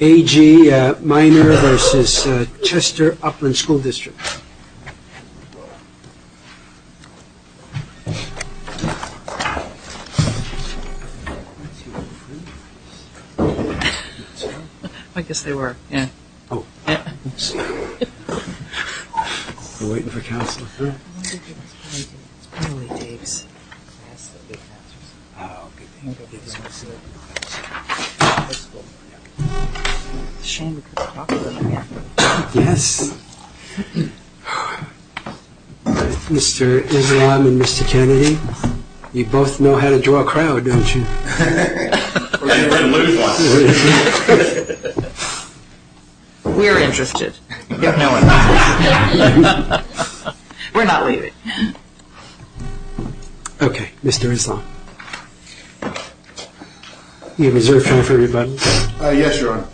A.G. Minor v. Chester Upland School District Mr. Islam and Mr. Kennedy, you both know how to draw a crowd, don't you? We're interested. We're not leaving. Okay, Mr. Islam. You have reserved time for rebuttal. Yes, Your Honor.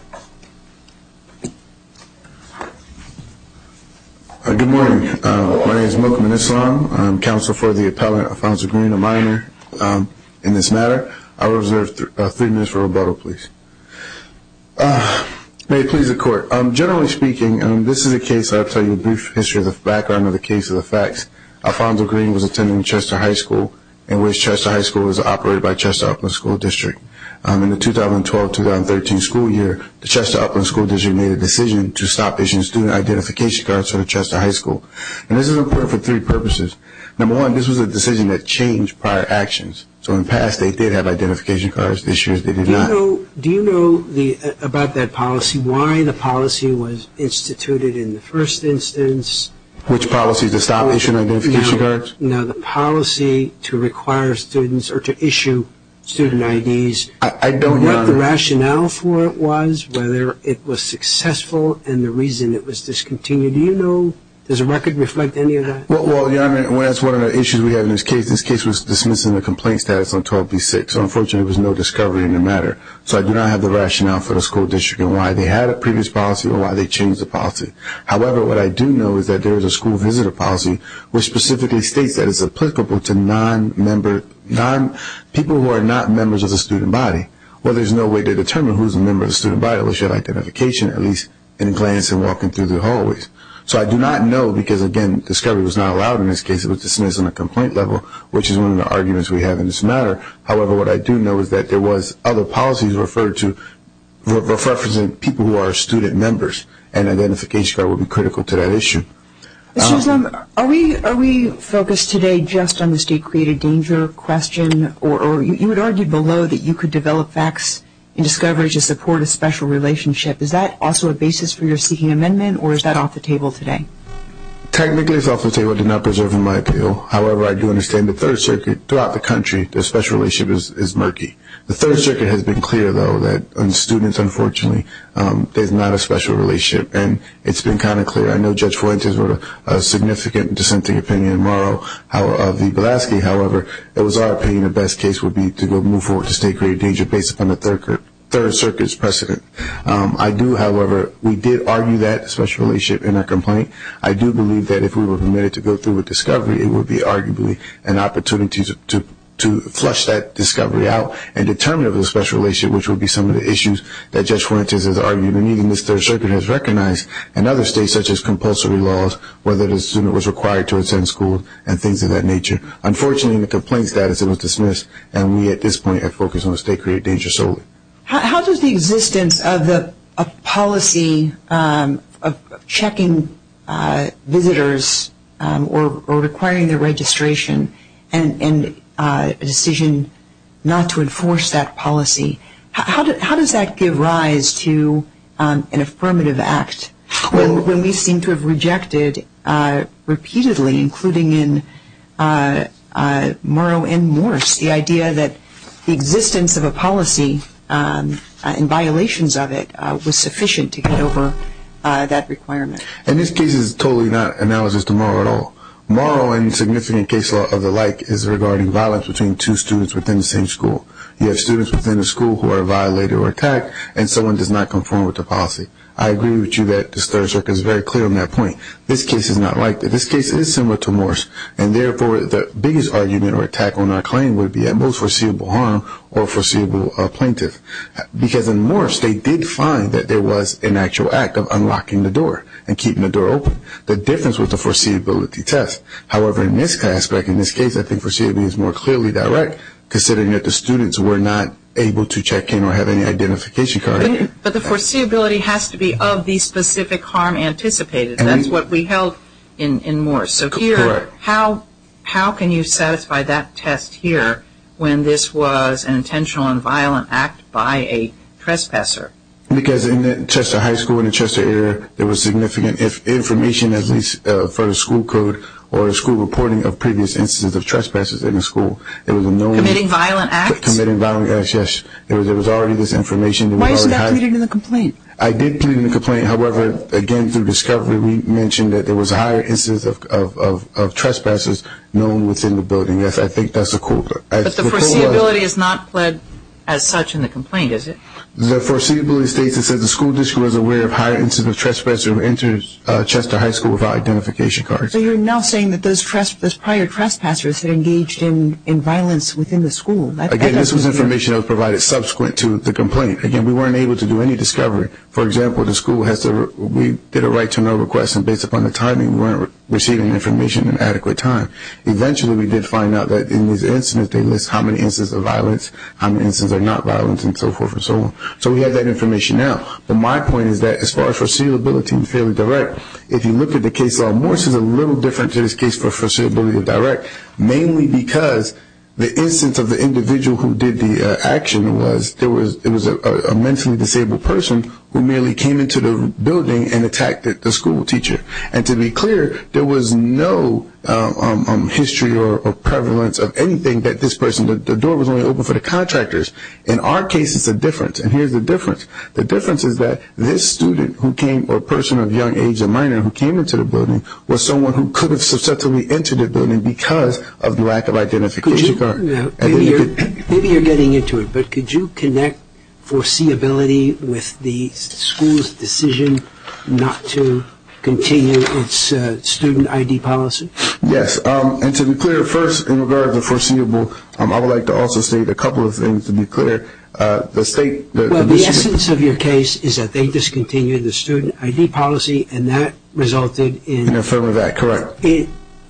Good morning. My name is Mokum Islam. I'm counsel for the appellant, Alfonso Green, a minor, in this matter. I will reserve three minutes for rebuttal, please. May it please the court. Your Honor, generally speaking, this is a brief history of the background of the case of the facts. Alfonso Green was attending Chester High School, in which Chester High School is operated by Chester Upland School District. In the 2012-2013 school year, the Chester Upland School District made a decision to stop issuing student identification cards to Chester High School. This is important for three purposes. Number one, this was a decision that changed prior actions. In the past, they did have identification cards. This year, they did not. Do you know about that policy, why the policy was instituted in the first instance? Which policy, to stop issuing identification cards? No, the policy to require students or to issue student IDs. I don't, Your Honor. What the rationale for it was, whether it was successful, and the reason it was discontinued. Do you know? Does the record reflect any of that? Well, Your Honor, that's one of the issues we have in this case. This case was dismissing the complaint status on 12B6. Unfortunately, there was no discovery in the matter. So I do not have the rationale for the school district and why they had a previous policy or why they changed the policy. However, what I do know is that there is a school visitor policy, which specifically states that it's applicable to people who are not members of the student body. Well, there's no way to determine who's a member of the student body unless you have identification, at least in glance and walking through the hallways. So I do not know, because again, discovery was not allowed in this case. It was dismissed on the complaint level, which is one of the arguments we have in this matter. However, what I do know is that there was other policies referred to, referencing people who are student members, and identification card would be critical to that issue. Mr. Islam, are we focused today just on the state-created danger question, or you had argued below that you could develop facts and discoveries to support a special relationship. Is that also a basis for your seeking amendment, or is that off the table today? Technically, it's off the table. I did not preserve my appeal. However, I do understand the Third Circuit, throughout the country, their special relationship is murky. The Third Circuit has been clear, though, that on students, unfortunately, there's not a special relationship. And it's been kind of clear. I know Judge Fuentes wrote a significant dissenting opinion of the Belaski. However, it was our opinion the best case would be to go move forward to state-created danger based upon the Third Circuit's precedent. I do, however, we did argue that special relationship in our complaint. I do believe that if we were permitted to go through with discovery, it would be arguably an opportunity to flush that discovery out and determine if it was a special relationship, which would be some of the issues that Judge Fuentes has argued. And even this Third Circuit has recognized in other states, such as compulsory laws, whether the student was required to attend school and things of that nature. Unfortunately, in the complaint status, it was dismissed. And we, at this point, are focused on the state-created danger solely. How does the existence of a policy of checking visitors or requiring their registration and a decision not to enforce that policy, how does that give rise to an affirmative act when we seem to have rejected repeatedly, including in Morrow and Morse, the idea that the existence of a policy and violations of it was sufficient to get over that requirement? And this case is totally not analogous to Morrow at all. Morrow, in significant case law of the like, is regarding violence between two students within the same school. You have students within the school who are violated or attacked, and someone does not conform with the policy. I agree with you that this Third Circuit is very clear on that point. This case is not like that. This case is similar to Morse. And therefore, the biggest argument or attack on our claim would be at most foreseeable harm or foreseeable plaintiff. Because in Morse, they did find that there was an actual act of unlocking the door and keeping the door open. The difference was the foreseeability test. However, in this aspect, in this case, I think foreseeability is more clearly direct, considering that the students were not able to check in or have any identification card. But the foreseeability has to be of the specific harm anticipated. That's what we held in Morse. Correct. So here, how can you satisfy that test here when this was an intentional and violent act by a trespasser? Because in the Chester High School, in the Chester area, there was significant information, at least for the school code or the school reporting of previous instances of trespasses in the school. Committing violent acts? Committing violent acts, yes. There was already this information. Why isn't that pleaded in the complaint? I did plead in the complaint. However, again, through discovery, we mentioned that there was a higher incidence of trespassers known within the building. I think that's a quote. But the foreseeability is not pled as such in the complaint, is it? The foreseeability states it says the school district was aware of higher incidence of trespassers who entered Chester High School without identification cards. So you're now saying that those prior trespassers had engaged in violence within the school. Again, this was information that was provided subsequent to the complaint. Again, we weren't able to do any discovery. For example, the school has to, we did a right-to-know request, and based upon the timing, we weren't receiving information in adequate time. Eventually, we did find out that in these instances, they list how many instances of violence, how many instances are not violent, and so forth and so on. So we have that information now. But my point is that as far as foreseeability and fairly direct, if you look at the case law in Morris, it's a little different to this case for foreseeability and direct, mainly because the instance of the individual who did the action was, it was a mentally disabled person who merely came into the building and attacked the school teacher. And to be clear, there was no history or prevalence of anything that this person, the door was only open for the contractors. In our case, it's a difference. And here's the difference. The difference is that this student who came, or person of young age or minor who came into the building, was someone who could have subsequently entered the building because of the lack of identification card. Maybe you're getting into it. But could you connect foreseeability with the school's decision not to continue its student ID policy? Yes. And to be clear, first, in regard to foreseeable, I would like to also state a couple of things to be clear. The state – Well, the essence of your case is that they discontinued the student ID policy, and that resulted in – In the form of that, correct.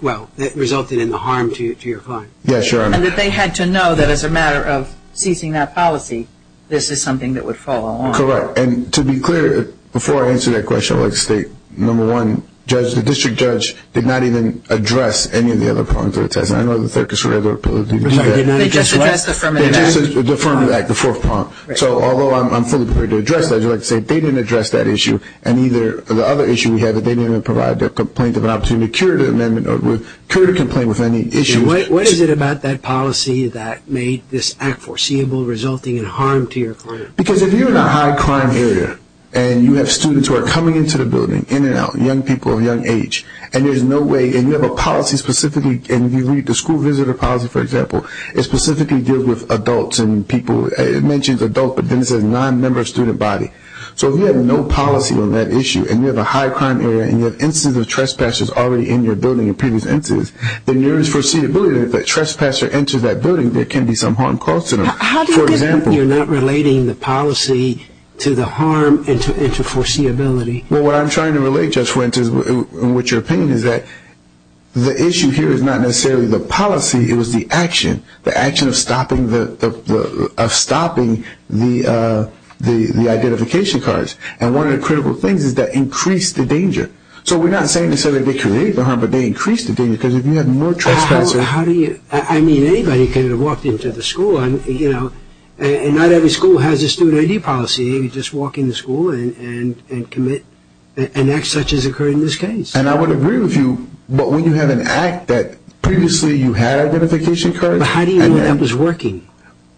Well, that resulted in the harm to your client. Yes, Your Honor. And that they had to know that as a matter of ceasing that policy, this is something that would follow on. Correct. And to be clear, before I answer that question, I would like to state, number one, the district judge did not even address any of the other problems that were tested. I know the circus would have the ability to do that. They just addressed the Affirmative Act. The Affirmative Act, the fourth problem. So although I'm fully prepared to address that, I would like to say they didn't address that issue, and either the other issue we have is they didn't even provide the complaint of an opportunity to curate an amendment or curate a complaint with any issue. What is it about that policy that made this act foreseeable, resulting in harm to your client? Because if you're in a high-crime area and you have students who are coming into the building, in and out, young people of young age, and there's no way – and you have a policy specifically – and if you read the school visitor policy, for example, it specifically deals with adults and people – it mentions adults, but then it says non-member student body. So if you have no policy on that issue and you have a high-crime area and you have instances of trespassers already in your building in previous instances, then there is foreseeability that if that trespasser enters that building, there can be some harm caused to them. How do you get – you're not relating the policy to the harm and to foreseeability. Well, what I'm trying to relate, Judge Wendt, is what your opinion is that the issue here is not necessarily the policy, it was the action, the action of stopping the identification cards. So we're not saying to say that they create the harm, but they increase the danger, because if you have more trespassers – How do you – I mean, anybody could have walked into the school, you know, and not every school has a student ID policy. They could just walk in the school and commit an act such as occurred in this case. And I would agree with you, but when you have an act that previously you had identification cards – But how do you know that that was working?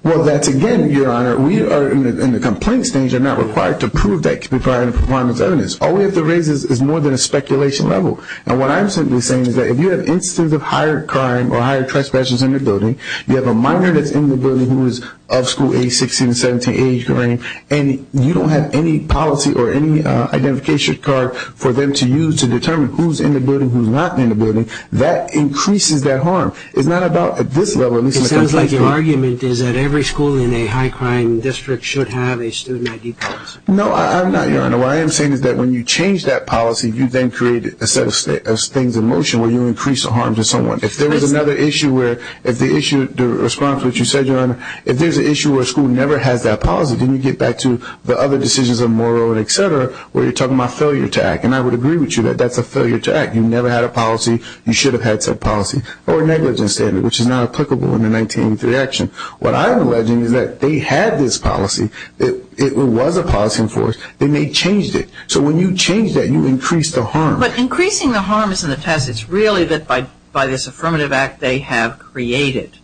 Well, that's again, Your Honor, we are in the complaint stage. You're not required to prove that prior to the performance of evidence. All we have to raise is more than a speculation level. And what I'm simply saying is that if you have instances of higher crime or higher trespassers in the building, you have a minor that's in the building who is of school age 16 to 17, age varying, and you don't have any policy or any identification card for them to use to determine who's in the building, who's not in the building, that increases their harm. It's not about at this level – It sounds like your argument is that every school in a high crime district should have a student ID policy. No, I'm not, Your Honor. What I am saying is that when you change that policy, you then create a set of things in motion where you increase the harm to someone. If there was another issue where the response to what you said, Your Honor, if there's an issue where a school never has that policy, then you get back to the other decisions of Morrill and et cetera where you're talking about failure to act. And I would agree with you that that's a failure to act. You never had a policy. You should have had said policy or negligence standard, which is not applicable in the 1983 action. What I'm alleging is that they had this policy. It was a policy enforced. Then they changed it. So when you change that, you increase the harm. But increasing the harm is in the past. It's really that by this affirmative act they have created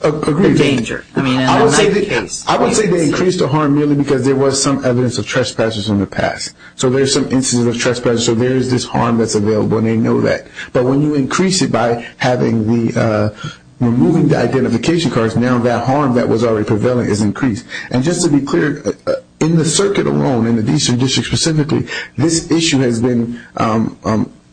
the danger. I would say they increased the harm merely because there was some evidence of trespassers in the past. So there's some instances of trespassers. So there is this harm that's available, and they know that. But when you increase it by having the – removing the identification cards, now that harm that was already prevailing is increased. And just to be clear, in the circuit alone, in the Eastern District specifically, this issue has been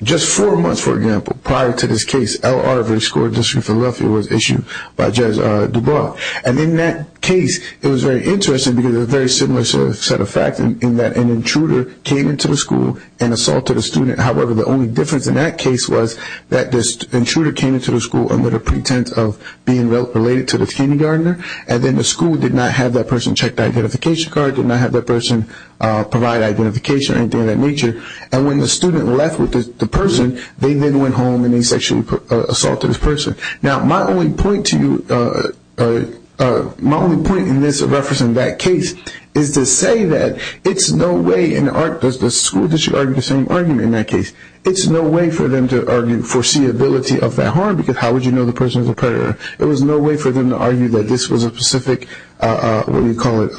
just four months, for example, prior to this case. L.R. of the School District of Philadelphia was issued by Judge Dubois. And in that case, it was very interesting because it was a very similar set of facts in that an intruder came into the school and assaulted a student. However, the only difference in that case was that this intruder came into the school under the pretense of being And then the school did not have that person check the identification card, did not have that person provide identification or anything of that nature. And when the student left with the person, they then went home and they sexually assaulted this person. Now, my only point to you – my only point in this reference in that case is to say that it's no way in the – does the school district argue the same argument in that case? It's no way for them to argue foreseeability of that harm because how would you know the person is a predator? There was no way for them to argue that this was a specific, what do you call it,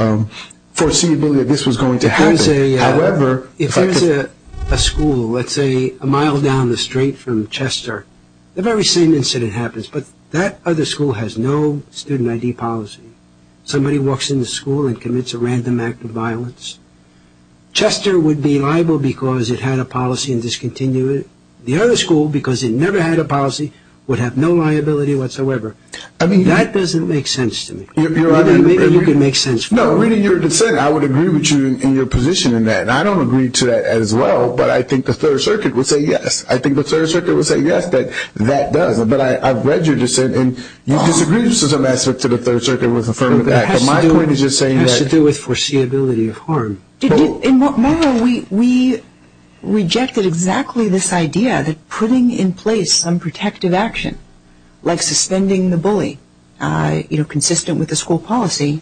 foreseeability that this was going to happen. However – If there's a school, let's say, a mile down the street from Chester, the very same incident happens, but that other school has no student ID policy. Somebody walks into the school and commits a random act of violence. Chester would be liable because it had a policy and discontinued it. The other school, because it never had a policy, would have no liability whatsoever. I mean, that doesn't make sense to me. Maybe you can make sense for me. No, reading your dissent, I would agree with you in your position in that. And I don't agree to that as well, but I think the Third Circuit would say yes. I think the Third Circuit would say yes, that that does. But I've read your dissent and you disagree with some aspects of the Third Circuit with the Affirmative Act. But my point is just saying that – It has to do with foreseeability of harm. Margo, we rejected exactly this idea that putting in place some protective action, like suspending the bully consistent with the school policy,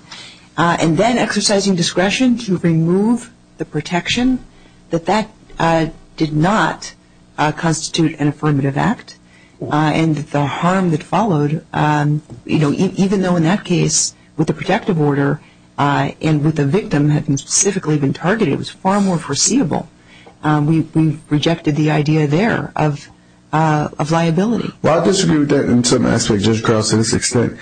and then exercising discretion to remove the protection, that that did not constitute an Affirmative Act. And the harm that followed, even though in that case with the protective order and with the victim having specifically been targeted, was far more foreseeable. We rejected the idea there of liability. Well, I disagree with that in some aspects, Judge Carlson, to this extent.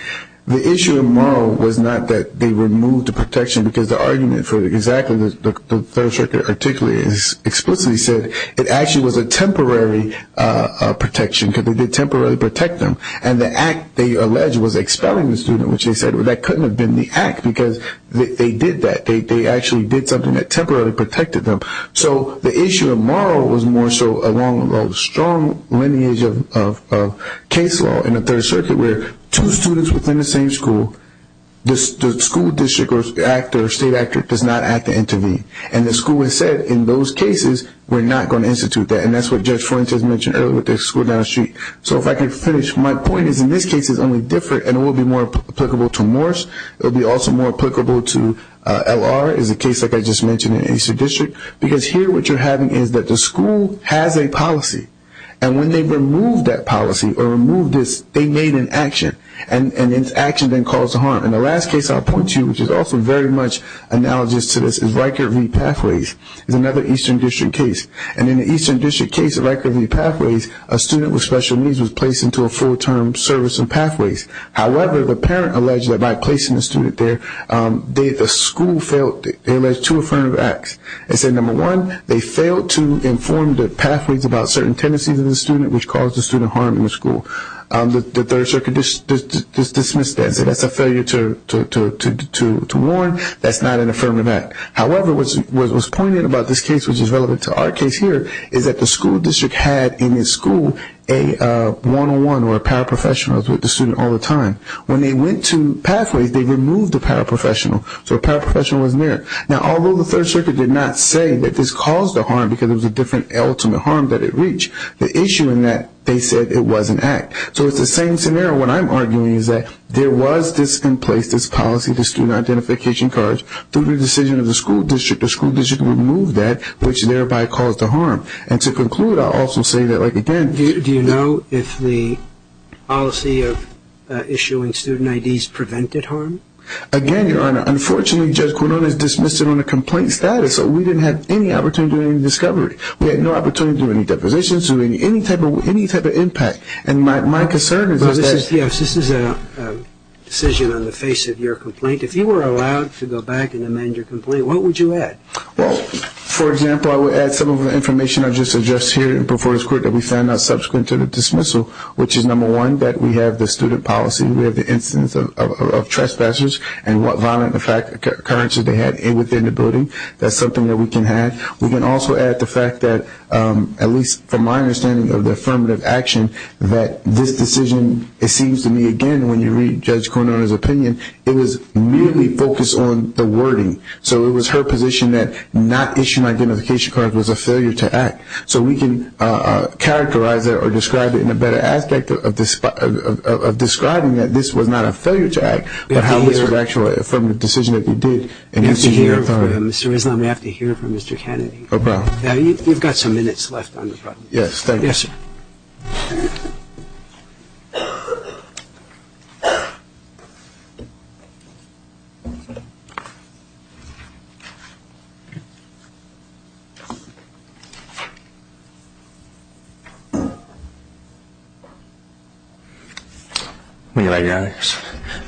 The issue of moral was not that they removed the protection, because the argument for exactly the Third Circuit particularly explicitly said it actually was a temporary protection because they did temporarily protect them. And the act, they allege, was expelling the student, which they said that couldn't have been the act because they did that. They actually did something that temporarily protected them. So the issue of moral was more so along the strong lineage of case law in the Third Circuit where two students within the same school, the school district or state actor does not have to intervene. And the school has said in those cases, we're not going to institute that. And that's what Judge Flint has mentioned earlier with the school down the street. So if I could finish, my point is in this case it's only different and it will be more applicable to Morris. It will be also more applicable to L.R. as a case like I just mentioned in Eastern District. Because here what you're having is that the school has a policy. And when they removed that policy or removed this, they made an action. And this action then caused harm. And the last case I'll point to, which is also very much analogous to this, is Riker v. Pathways. It's another Eastern District case. And in the Eastern District case of Riker v. Pathways, however, the parent alleged that by placing the student there, the school failed. They alleged two affirmative acts. They said, number one, they failed to inform the Pathways about certain tendencies in the student, which caused the student harm in the school. The Third Circuit dismissed that and said that's a failure to warn. That's not an affirmative act. However, what was pointed about this case, which is relevant to our case here, is that the school district had in its school a one-on-one or paraprofessionals with the student all the time. When they went to Pathways, they removed the paraprofessional. So a paraprofessional was there. Now, although the Third Circuit did not say that this caused the harm because it was a different ultimate harm that it reached, the issue in that they said it was an act. So it's the same scenario. What I'm arguing is that there was this in place, this policy, the student identification cards. Through the decision of the school district, the school district removed that, which thereby caused the harm. And to conclude, I'll also say that, like, again, Do you know if the policy of issuing student IDs prevented harm? Again, Your Honor, unfortunately, Judge Quinonez dismissed it on a complaint status, so we didn't have any opportunity to do any discovery. We had no opportunity to do any depositions or any type of impact. And my concern is that Yes, this is a decision on the face of your complaint. If you were allowed to go back and amend your complaint, what would you add? Well, for example, I would add some of the information I just addressed here before this Court that we found not subsequent to the dismissal, which is, number one, that we have the student policy. We have the instance of trespassers and what violent occurrences they had within the building. That's something that we can add. We can also add the fact that, at least from my understanding of the affirmative action, that this decision, it seems to me, again, when you read Judge Quinonez's opinion, it was merely focused on the wording. So it was her position that not issuing identification cards was a failure to act. So we can characterize that or describe it in a better aspect of describing that this was not a failure to act, but how this was actually an affirmative decision that they did. We have to hear from Mr. Rizlan. We have to hear from Mr. Kennedy. Okay. You've got some minutes left on the problem. Yes, thank you. Yes, sir. Thank you.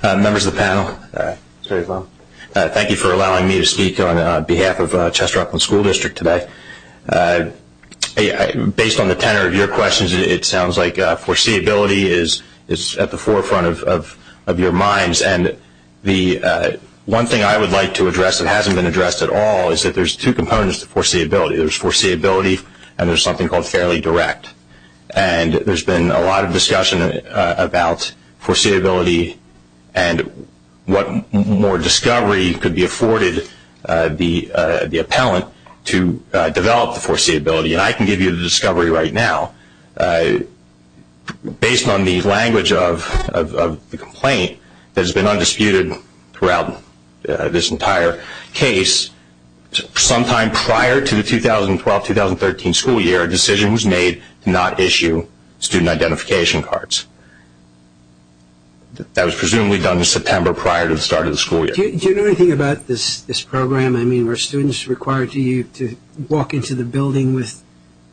Members of the panel, thank you for allowing me to speak on behalf of Chester Upland School District today. Based on the tenor of your questions, it sounds like foreseeability is at the forefront of your minds. And the one thing I would like to address that hasn't been addressed at all is that there's two components to foreseeability. There's foreseeability and there's something called fairly direct. And there's been a lot of discussion about foreseeability and what more discovery could be afforded the appellant to develop the foreseeability. And I can give you the discovery right now. Based on the language of the complaint that has been undisputed throughout this entire case, sometime prior to the 2012-2013 school year, a decision was made to not issue student identification cards. That was presumably done in September prior to the start of the school year. Do you know anything about this program? I mean, were students required to walk into the building with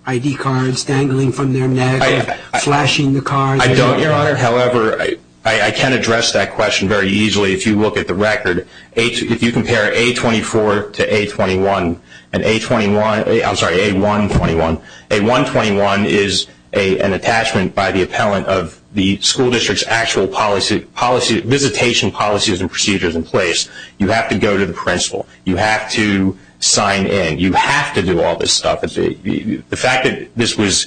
ID cards dangling from their neck or flashing the cards? I don't, Your Honor. However, I can address that question very easily if you look at the record. If you compare A24 to A21, I'm sorry, A121, A121 is an attachment by the appellant of the school district's actual visitation policies and procedures in place. You have to go to the principal. You have to sign in. You have to do all this stuff. The fact that this was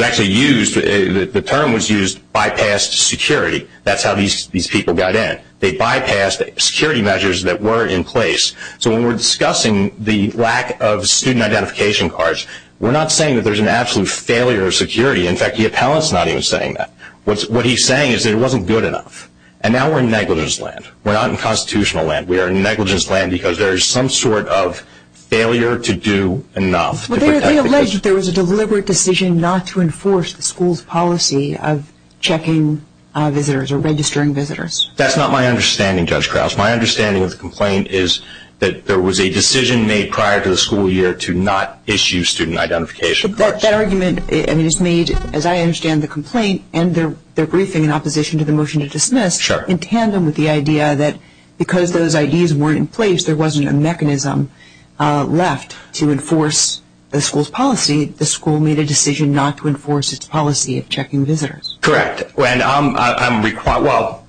actually used, the term was used, bypassed security. That's how these people got in. They bypassed security measures that were in place. So when we're discussing the lack of student identification cards, we're not saying that there's an absolute failure of security. In fact, the appellant's not even saying that. What he's saying is that it wasn't good enough. And now we're in negligence land. We're not in constitutional land. We are in negligence land because there is some sort of failure to do enough. They allege that there was a deliberate decision not to enforce the school's policy of checking visitors or registering visitors. That's not my understanding, Judge Krause. My understanding of the complaint is that there was a decision made prior to the school year to not issue student identification cards. But that argument is made, as I understand the complaint, and their briefing in opposition to the motion to dismiss, in tandem with the idea that because those IDs weren't in place, there wasn't a mechanism left to enforce the school's policy, the school made a decision not to enforce its policy of checking visitors. Correct. Well,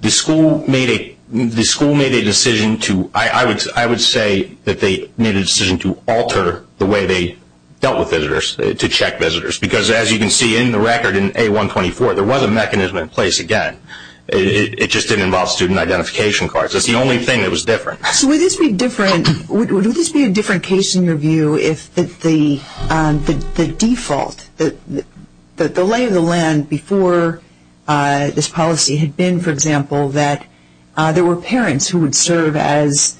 the school made a decision to, I would say that they made a decision to alter the way they dealt with visitors, to check visitors. Because as you can see in the record in A124, there was a mechanism in place again. It just didn't involve student identification cards. That's the only thing that was different. So would this be a different case in your view if the default, the lay of the land before this policy had been, for example, that there were parents who would serve as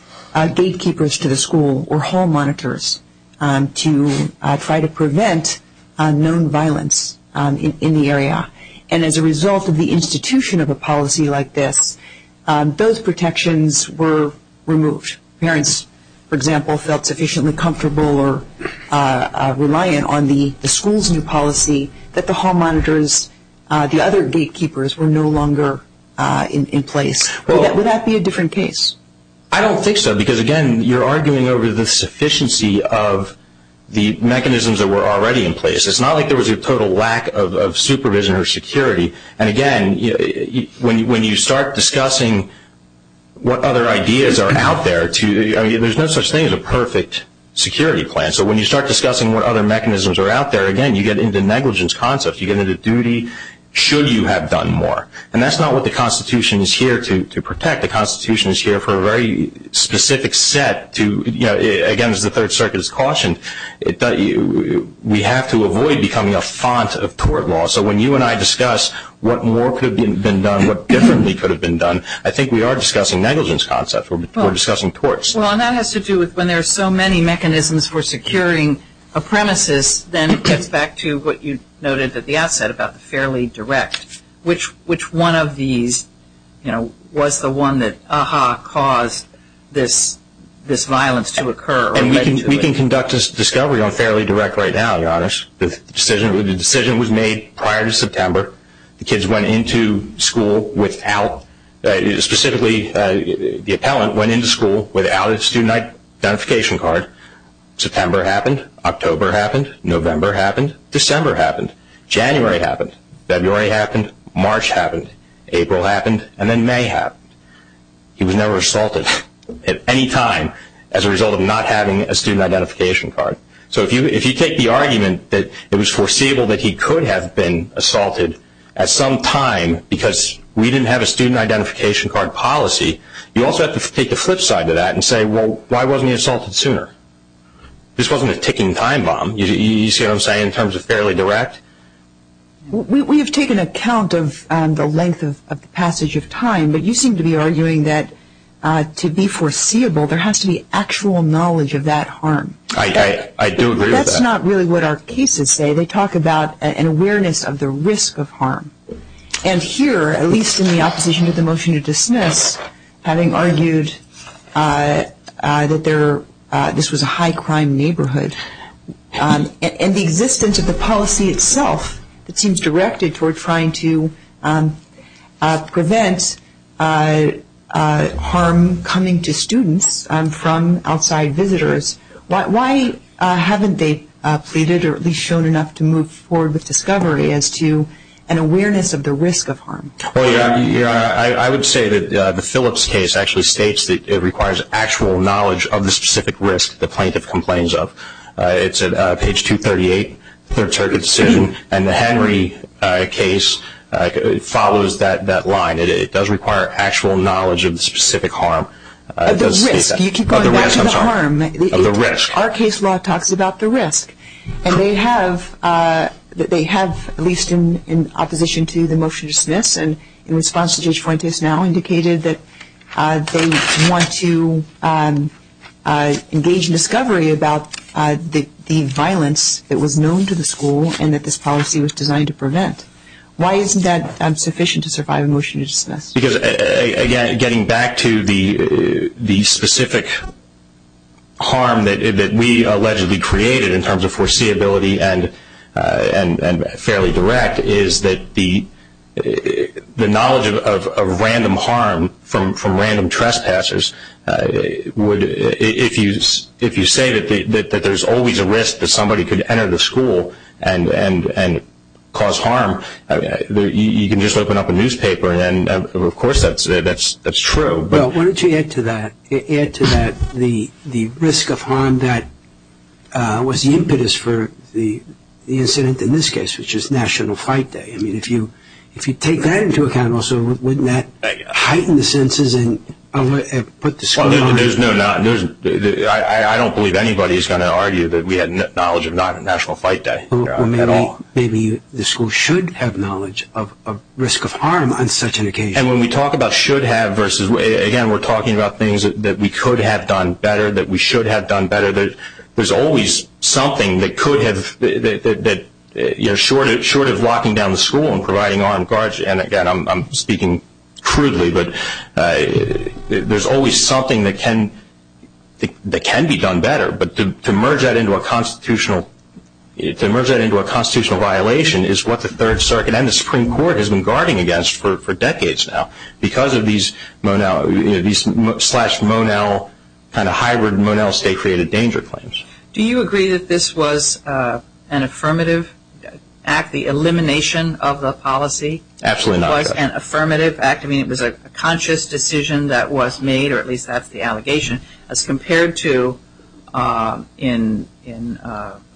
gatekeepers to the school or hall monitors to try to prevent known violence in the area? And as a result of the institution of a policy like this, those protections were removed. Parents, for example, felt sufficiently comfortable or reliant on the school's new policy that the hall monitors, the other gatekeepers were no longer in place. Would that be a different case? I don't think so because, again, you're arguing over the sufficiency of the mechanisms that were already in place. It's not like there was a total lack of supervision or security. And, again, when you start discussing what other ideas are out there, there's no such thing as a perfect security plan. So when you start discussing what other mechanisms are out there, again, you get into negligence concepts. You get into duty should you have done more. And that's not what the Constitution is here to protect. The Constitution is here for a very specific set to, again, as the Third Circuit has cautioned, we have to avoid becoming a font of tort law. So when you and I discuss what more could have been done, what differently could have been done, I think we are discussing negligence concepts. We're discussing torts. Well, and that has to do with when there are so many mechanisms for securing a premises, then it gets back to what you noted at the outset about the fairly direct. Which one of these was the one that, aha, caused this violence to occur? And we can conduct this discovery on fairly direct right now, Your Honors. The decision was made prior to September. The kids went into school without, specifically, the appellant went into school without a student identification card. September happened. October happened. November happened. December happened. January happened. February happened. March happened. April happened. And then May happened. He was never assaulted at any time as a result of not having a student identification card. So if you take the argument that it was foreseeable that he could have been assaulted at some time because we didn't have a student identification card policy, you also have to take the flip side of that and say, well, why wasn't he assaulted sooner? This wasn't a ticking time bomb. You see what I'm saying in terms of fairly direct? We have taken account of the length of the passage of time, but you seem to be arguing that to be foreseeable there has to be actual knowledge of that harm. I do agree with that. But that's not really what our cases say. They talk about an awareness of the risk of harm. And here, at least in the opposition to the motion to dismiss, having argued that this was a high-crime neighborhood, and the existence of the policy itself that seems directed toward trying to prevent harm coming to students from outside visitors, why haven't they pleaded or at least shown enough to move forward with discovery as to an awareness of the risk of harm? I would say that the Phillips case actually states that it requires actual knowledge of the specific risk that the plaintiff complains of. It's at page 238, third circuit decision. And the Henry case follows that line. It does require actual knowledge of the specific harm. Of the risk. You keep going back to the harm. Of the risk. Our case law talks about the risk. And they have, at least in opposition to the motion to dismiss and in response to Judge Fuentes now indicated that they want to engage in discovery about the violence that was known to the school and that this policy was designed to prevent. Why isn't that sufficient to survive a motion to dismiss? Because, again, getting back to the specific harm that we allegedly created in terms of foreseeability and fairly direct is that the knowledge of random harm from random trespassers would, if you say that there's always a risk that somebody could enter the school and cause harm, you can just open up a newspaper and, of course, that's true. Well, why don't you add to that the risk of harm that was the impetus for the incident in this case, which is National Fight Day. I mean, if you take that into account, also, wouldn't that heighten the senses and put the school on? I don't believe anybody is going to argue that we had knowledge of National Fight Day at all. Well, maybe the school should have knowledge of risk of harm on such an occasion. And when we talk about should have versus, again, we're talking about things that we could have done better, that we should have done better, there's always something that could have, short of locking down the school and providing armed guards, and, again, I'm speaking crudely, but there's always something that can be done better. But to merge that into a constitutional violation is what the Third Circuit and the Supreme Court has been guarding against for decades now because of these slash Monel, kind of hybrid Monel state-created danger claims. Do you agree that this was an affirmative act, the elimination of the policy? Absolutely not. It was an affirmative act. I mean, it was a conscious decision that was made, or at least that's the allegation, as compared to in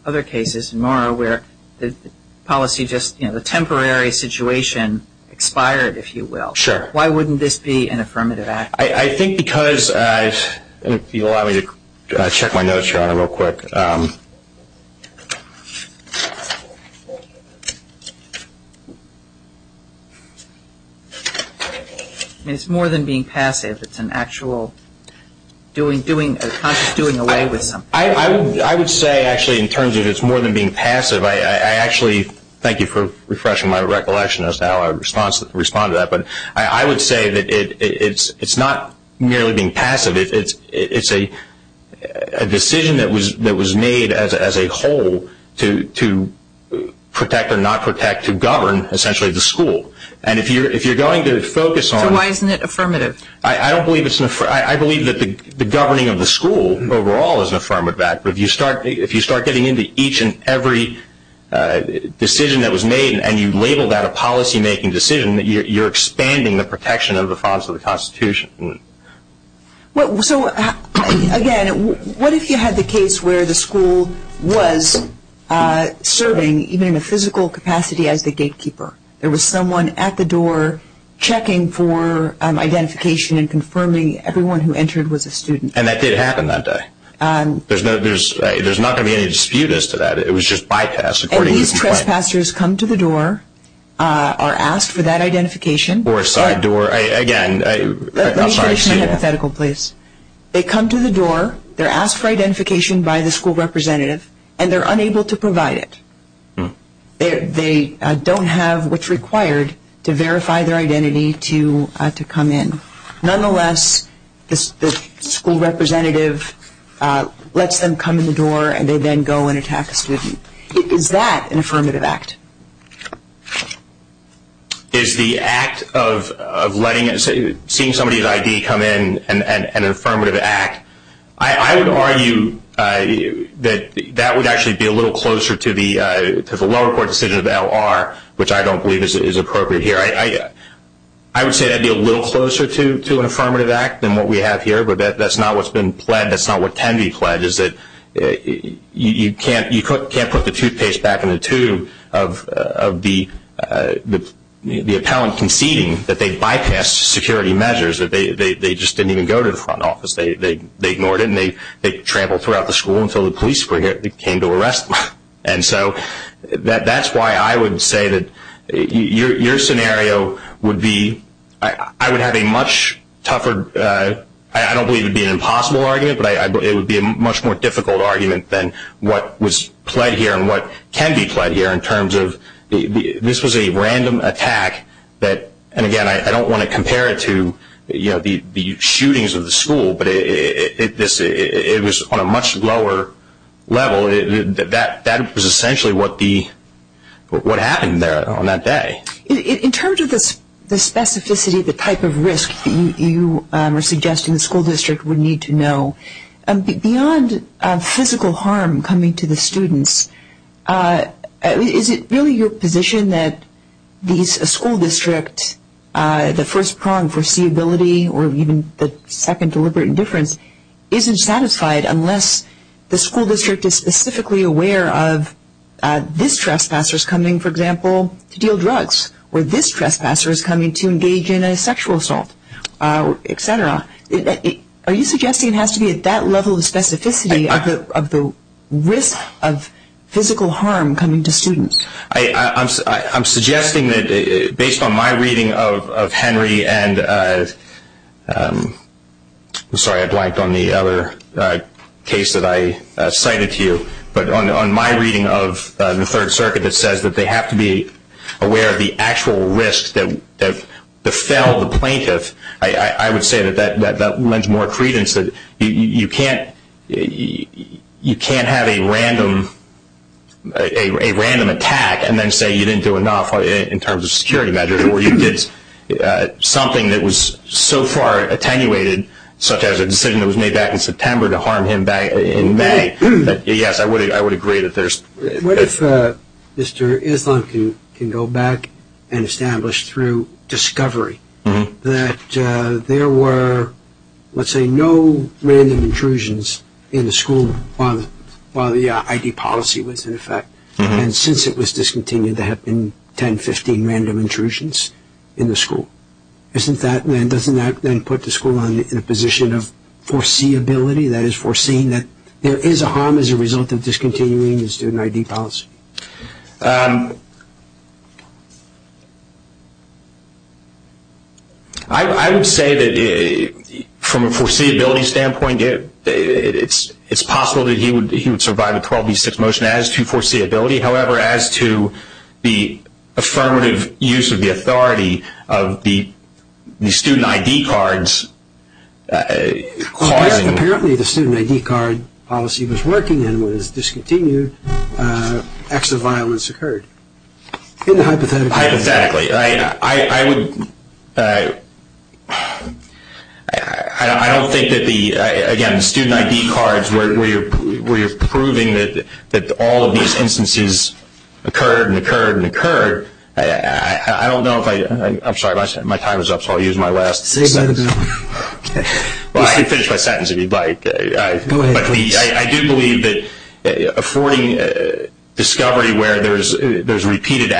other cases, more where the policy just, you know, the temporary situation expired, if you will. Sure. Why wouldn't this be an affirmative act? I think because I, if you'll allow me to check my notes, Your Honor, real quick. I mean, it's more than being passive. It's an actual conscious doing away with something. I would say, actually, in terms of it's more than being passive, I actually, thank you for refreshing my recollection as to how I would respond to that, but I would say that it's not merely being passive. It's a decision that was made as a whole to protect or not protect, to govern, essentially, the school. And if you're going to focus on... So why isn't it affirmative? I don't believe it's an affirmative. I believe that the governing of the school overall is an affirmative act, but if you start getting into each and every decision that was made and you label that a policy-making decision, you're expanding the protection of the funds of the Constitution. So, again, what if you had the case where the school was serving, even in a physical capacity, as the gatekeeper? There was someone at the door checking for identification and confirming everyone who entered was a student. And that did happen that day. There's not going to be any dispute as to that. It was just bypassed. And these trespassers come to the door, are asked for that identification. Or a side door. Again, I'm sorry. Let me finish my hypothetical, please. They come to the door, they're asked for identification by the school representative, and they're unable to provide it. They don't have what's required to verify their identity to come in. Nonetheless, the school representative lets them come in the door, and they then go and attack a student. Is that an affirmative act? Is the act of seeing somebody's ID come in an affirmative act? I would argue that that would actually be a little closer to the lower court decision of the LR, which I don't believe is appropriate here. I would say that would be a little closer to an affirmative act than what we have here, but that's not what's been pledged. That's not what can be pledged. What can be pledged is that you can't put the toothpaste back in the tube of the appellant conceding that they bypassed security measures, that they just didn't even go to the front office. They ignored it, and they trampled throughout the school until the police came to arrest them. And so that's why I would say that your scenario would be, I would have a much tougher, I don't believe it would be an impossible argument, but it would be a much more difficult argument than what was pledged here and what can be pledged here in terms of this was a random attack. And, again, I don't want to compare it to the shootings of the school, but it was on a much lower level. That was essentially what happened there on that day. In terms of the specificity of the type of risk that you were suggesting the school district would need to know, beyond physical harm coming to the students, is it really your position that a school district, the first prong for seeability or even the second deliberate indifference, isn't satisfied unless the school district is specifically aware of this trespasser's coming, for example, to deal drugs, or this trespasser is coming to engage in a sexual assault, et cetera. Are you suggesting it has to be at that level of specificity of the risk of physical harm coming to students? I'm suggesting that based on my reading of Henry and, sorry, I blanked on the other case that I cited to you, but on my reading of the Third Circuit that says that they have to be aware of the actual risk that befell the plaintiff, I would say that that lends more credence that you can't have a random attack and then say you didn't do enough in terms of security measures, or you did something that was so far attenuated, such as a decision that was made back in September to harm him in May, that, yes, I would agree that there's... What if Mr. Islam can go back and establish through discovery that there were, let's say, no random intrusions in the school while the I.D. policy was in effect, and since it was discontinued there have been 10, 15 random intrusions in the school. Doesn't that then put the school in a position of foreseeability, that is, foreseeing that there is a harm as a result of discontinuing the student I.D. policy? I would say that from a foreseeability standpoint, it's possible that he would survive a 12B6 motion as to foreseeability. However, as to the affirmative use of the authority of the student I.D. cards... Apparently the student I.D. card policy was working and was discontinued, acts of violence occurred. Hypothetically. Hypothetically. I would... I don't think that the... Again, the student I.D. cards where you're proving that all of these instances occurred and occurred and occurred, I don't know if I... I'm sorry, my time is up, so I'll use my last sentence. You can finish my sentence if you'd like. Go ahead, please. I do believe that affording discovery where there's repeated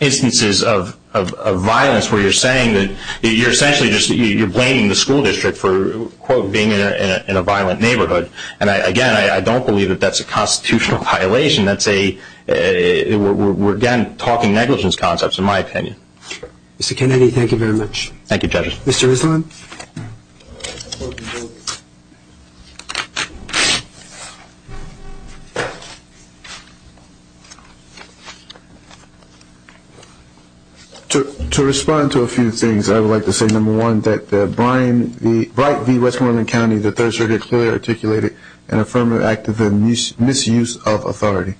instances of violence where you're saying that you're essentially just blaming the school district for, quote, being in a violent neighborhood. And, again, I don't believe that that's a constitutional violation. That's a... We're, again, talking negligence concepts, in my opinion. Thank you, judges. Mr. Rislin? To respond to a few things, I would like to say, number one, that the Bryant v. Westmoreland County, the third circuit clearly articulated an affirmative act of misuse of authority.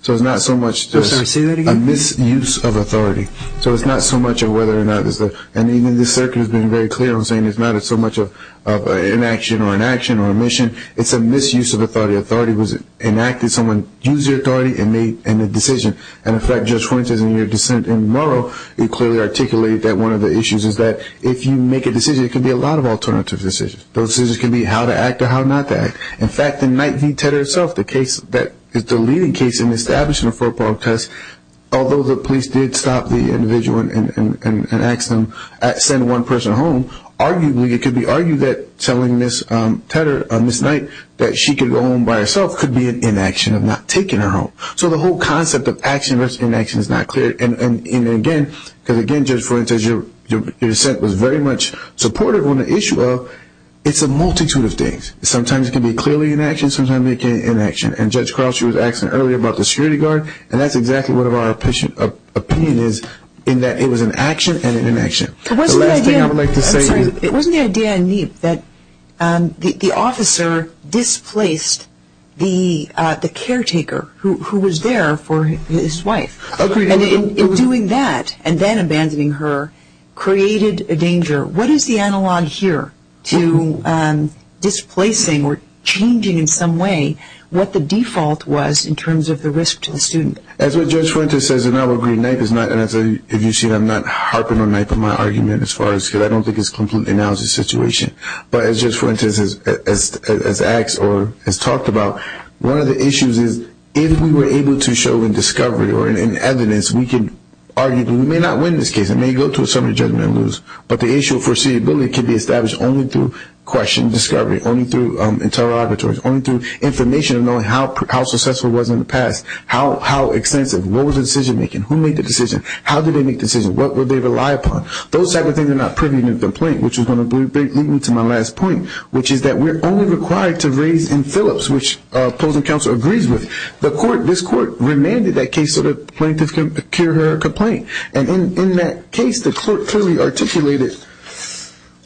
So it's not so much just a misuse of authority. So it's not so much of whether or not there's a... I'm being very clear. I'm saying it's not so much of an inaction or an action or a mission. It's a misuse of authority. Authority was enacted. Someone used their authority and made a decision. And, in fact, Judge Fuentes, in your dissent in Murrow, he clearly articulated that one of the issues is that if you make a decision, it can be a lot of alternative decisions. Those decisions can be how to act or how not to act. In fact, in Knight v. Tedder itself, the case that... the leading case in establishing a football test, although the police did stop the individual and ask them to send one person home, arguably it could be argued that telling Ms. Tedder, Ms. Knight, that she could go home by herself could be an inaction of not taking her home. So the whole concept of action versus inaction is not clear. And, again, because, again, Judge Fuentes, your dissent was very much supportive on the issue of it's a multitude of things. Sometimes it can be clearly an action. Sometimes it can be an inaction. And Judge Crouch was asking earlier about the security guard, and that's exactly what our opinion is in that it was an action and an inaction. The last thing I would like to say is... It wasn't the idea, Anib, that the officer displaced the caretaker who was there for his wife. Agreed. And in doing that and then abandoning her created a danger. What is the analog here to displacing or changing in some way what the default was in terms of the risk to the student? As what Judge Fuentes says, and I will agree, and if you see that I'm not harping on my argument as far as, because I don't think it's completely announced the situation, but as Judge Fuentes has asked or has talked about, one of the issues is if we were able to show in discovery or in evidence, we could argue that we may not win this case. We may go to a summary judgment and lose, but the issue of foreseeability can be established only through question discovery, only through interrogatories, only through information of knowing how successful it was in the past, how extensive, what was the decision-making, who made the decision, how did they make the decision, what would they rely upon. Those type of things are not privy to the complaint, which is going to lead me to my last point, which is that we're only required to raise in Phillips, which opposing counsel agrees with. This court remanded that case so the plaintiff can procure her complaint. And in that case, the court clearly articulated,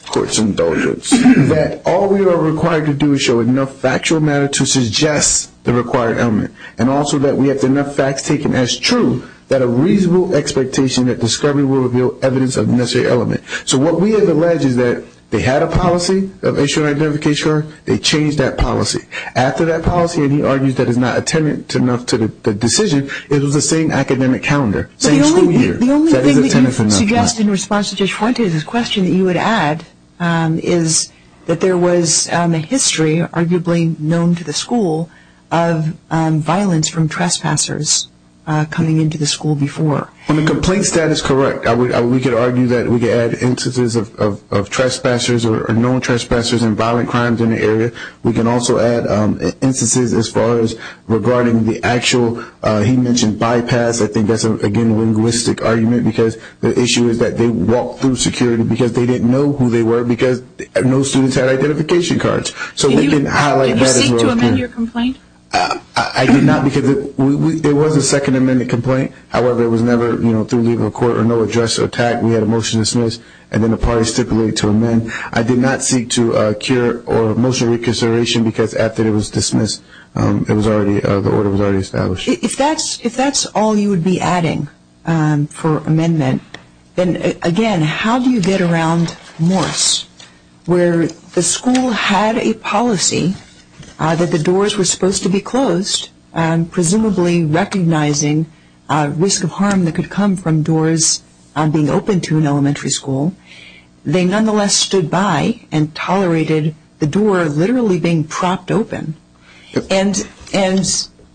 court's indulgence, that all we are required to do is show enough factual matter to suggest the required element and also that we have enough facts taken as true that a reasonable expectation that discovery will reveal evidence of the necessary element. So what we have alleged is that they had a policy of issuing an identification card, they changed that policy. After that policy, and he argues that it's not attendant enough to the decision, it was the same academic calendar, same school year. The only thing that you suggest in response to DeJuante is a question that you would add, is that there was a history, arguably known to the school, of violence from trespassers coming into the school before. On the complaint status, correct. We could argue that we could add instances of trespassers or known trespassers and violent crimes in the area. We can also add instances as far as regarding the actual, he mentioned bypass. I think that's, again, a linguistic argument because the issue is that they walked through security because they didn't know who they were because no students had identification cards. Did you seek to amend your complaint? I did not because there was a second amendment complaint. However, it was never through leaving a court or no address or tag. We had a motion to dismiss and then a party stipulated to amend. I did not seek to cure or motion reconsideration because after it was dismissed, the order was already established. If that's all you would be adding for amendment, then, again, how do you get around Morse where the school had a policy that the doors were supposed to be closed, presumably recognizing risk of harm that could come from doors being open to an elementary school. They nonetheless stood by and tolerated the door literally being propped open.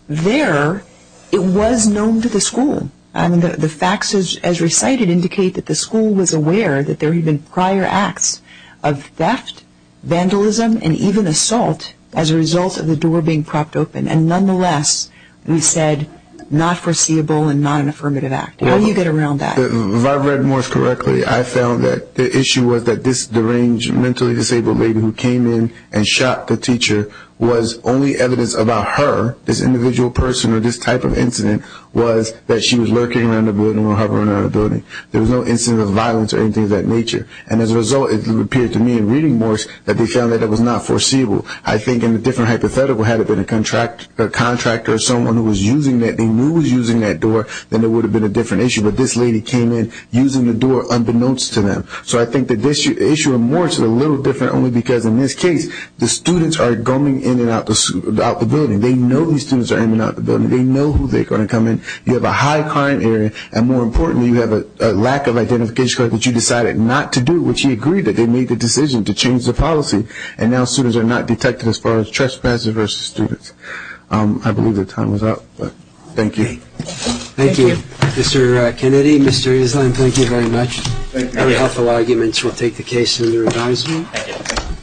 There, it was known to the school. The facts as recited indicate that the school was aware that there had been prior acts of theft, vandalism, and even assault as a result of the door being propped open. Nonetheless, we said not foreseeable and not an affirmative act. How do you get around that? If I read Morse correctly, I found that the issue was that this deranged, mentally disabled lady who came in and shot the teacher was only evidence about her, this individual person or this type of incident, was that she was lurking around the building or hovering around the building. There was no incident of violence or anything of that nature. And as a result, it appeared to me in reading Morse that they found that it was not foreseeable. I think in a different hypothetical, had it been a contractor or someone who was using that, they knew was using that door, then it would have been a different issue. But this lady came in using the door unbeknownst to them. So I think that the issue of Morse is a little different only because in this case, the students are going in and out of the building. They know these students are in and out of the building. They know who they're going to come in. You have a high crime area, and more importantly, you have a lack of identification card that you decided not to do, which you agreed that they made the decision to change the policy. And now students are not detected as far as trespassers versus students. I believe the time is up, but thank you. Thank you. Mr. Kennedy, Mr. Islin, thank you very much. Very helpful arguments. We'll take the case under advisement.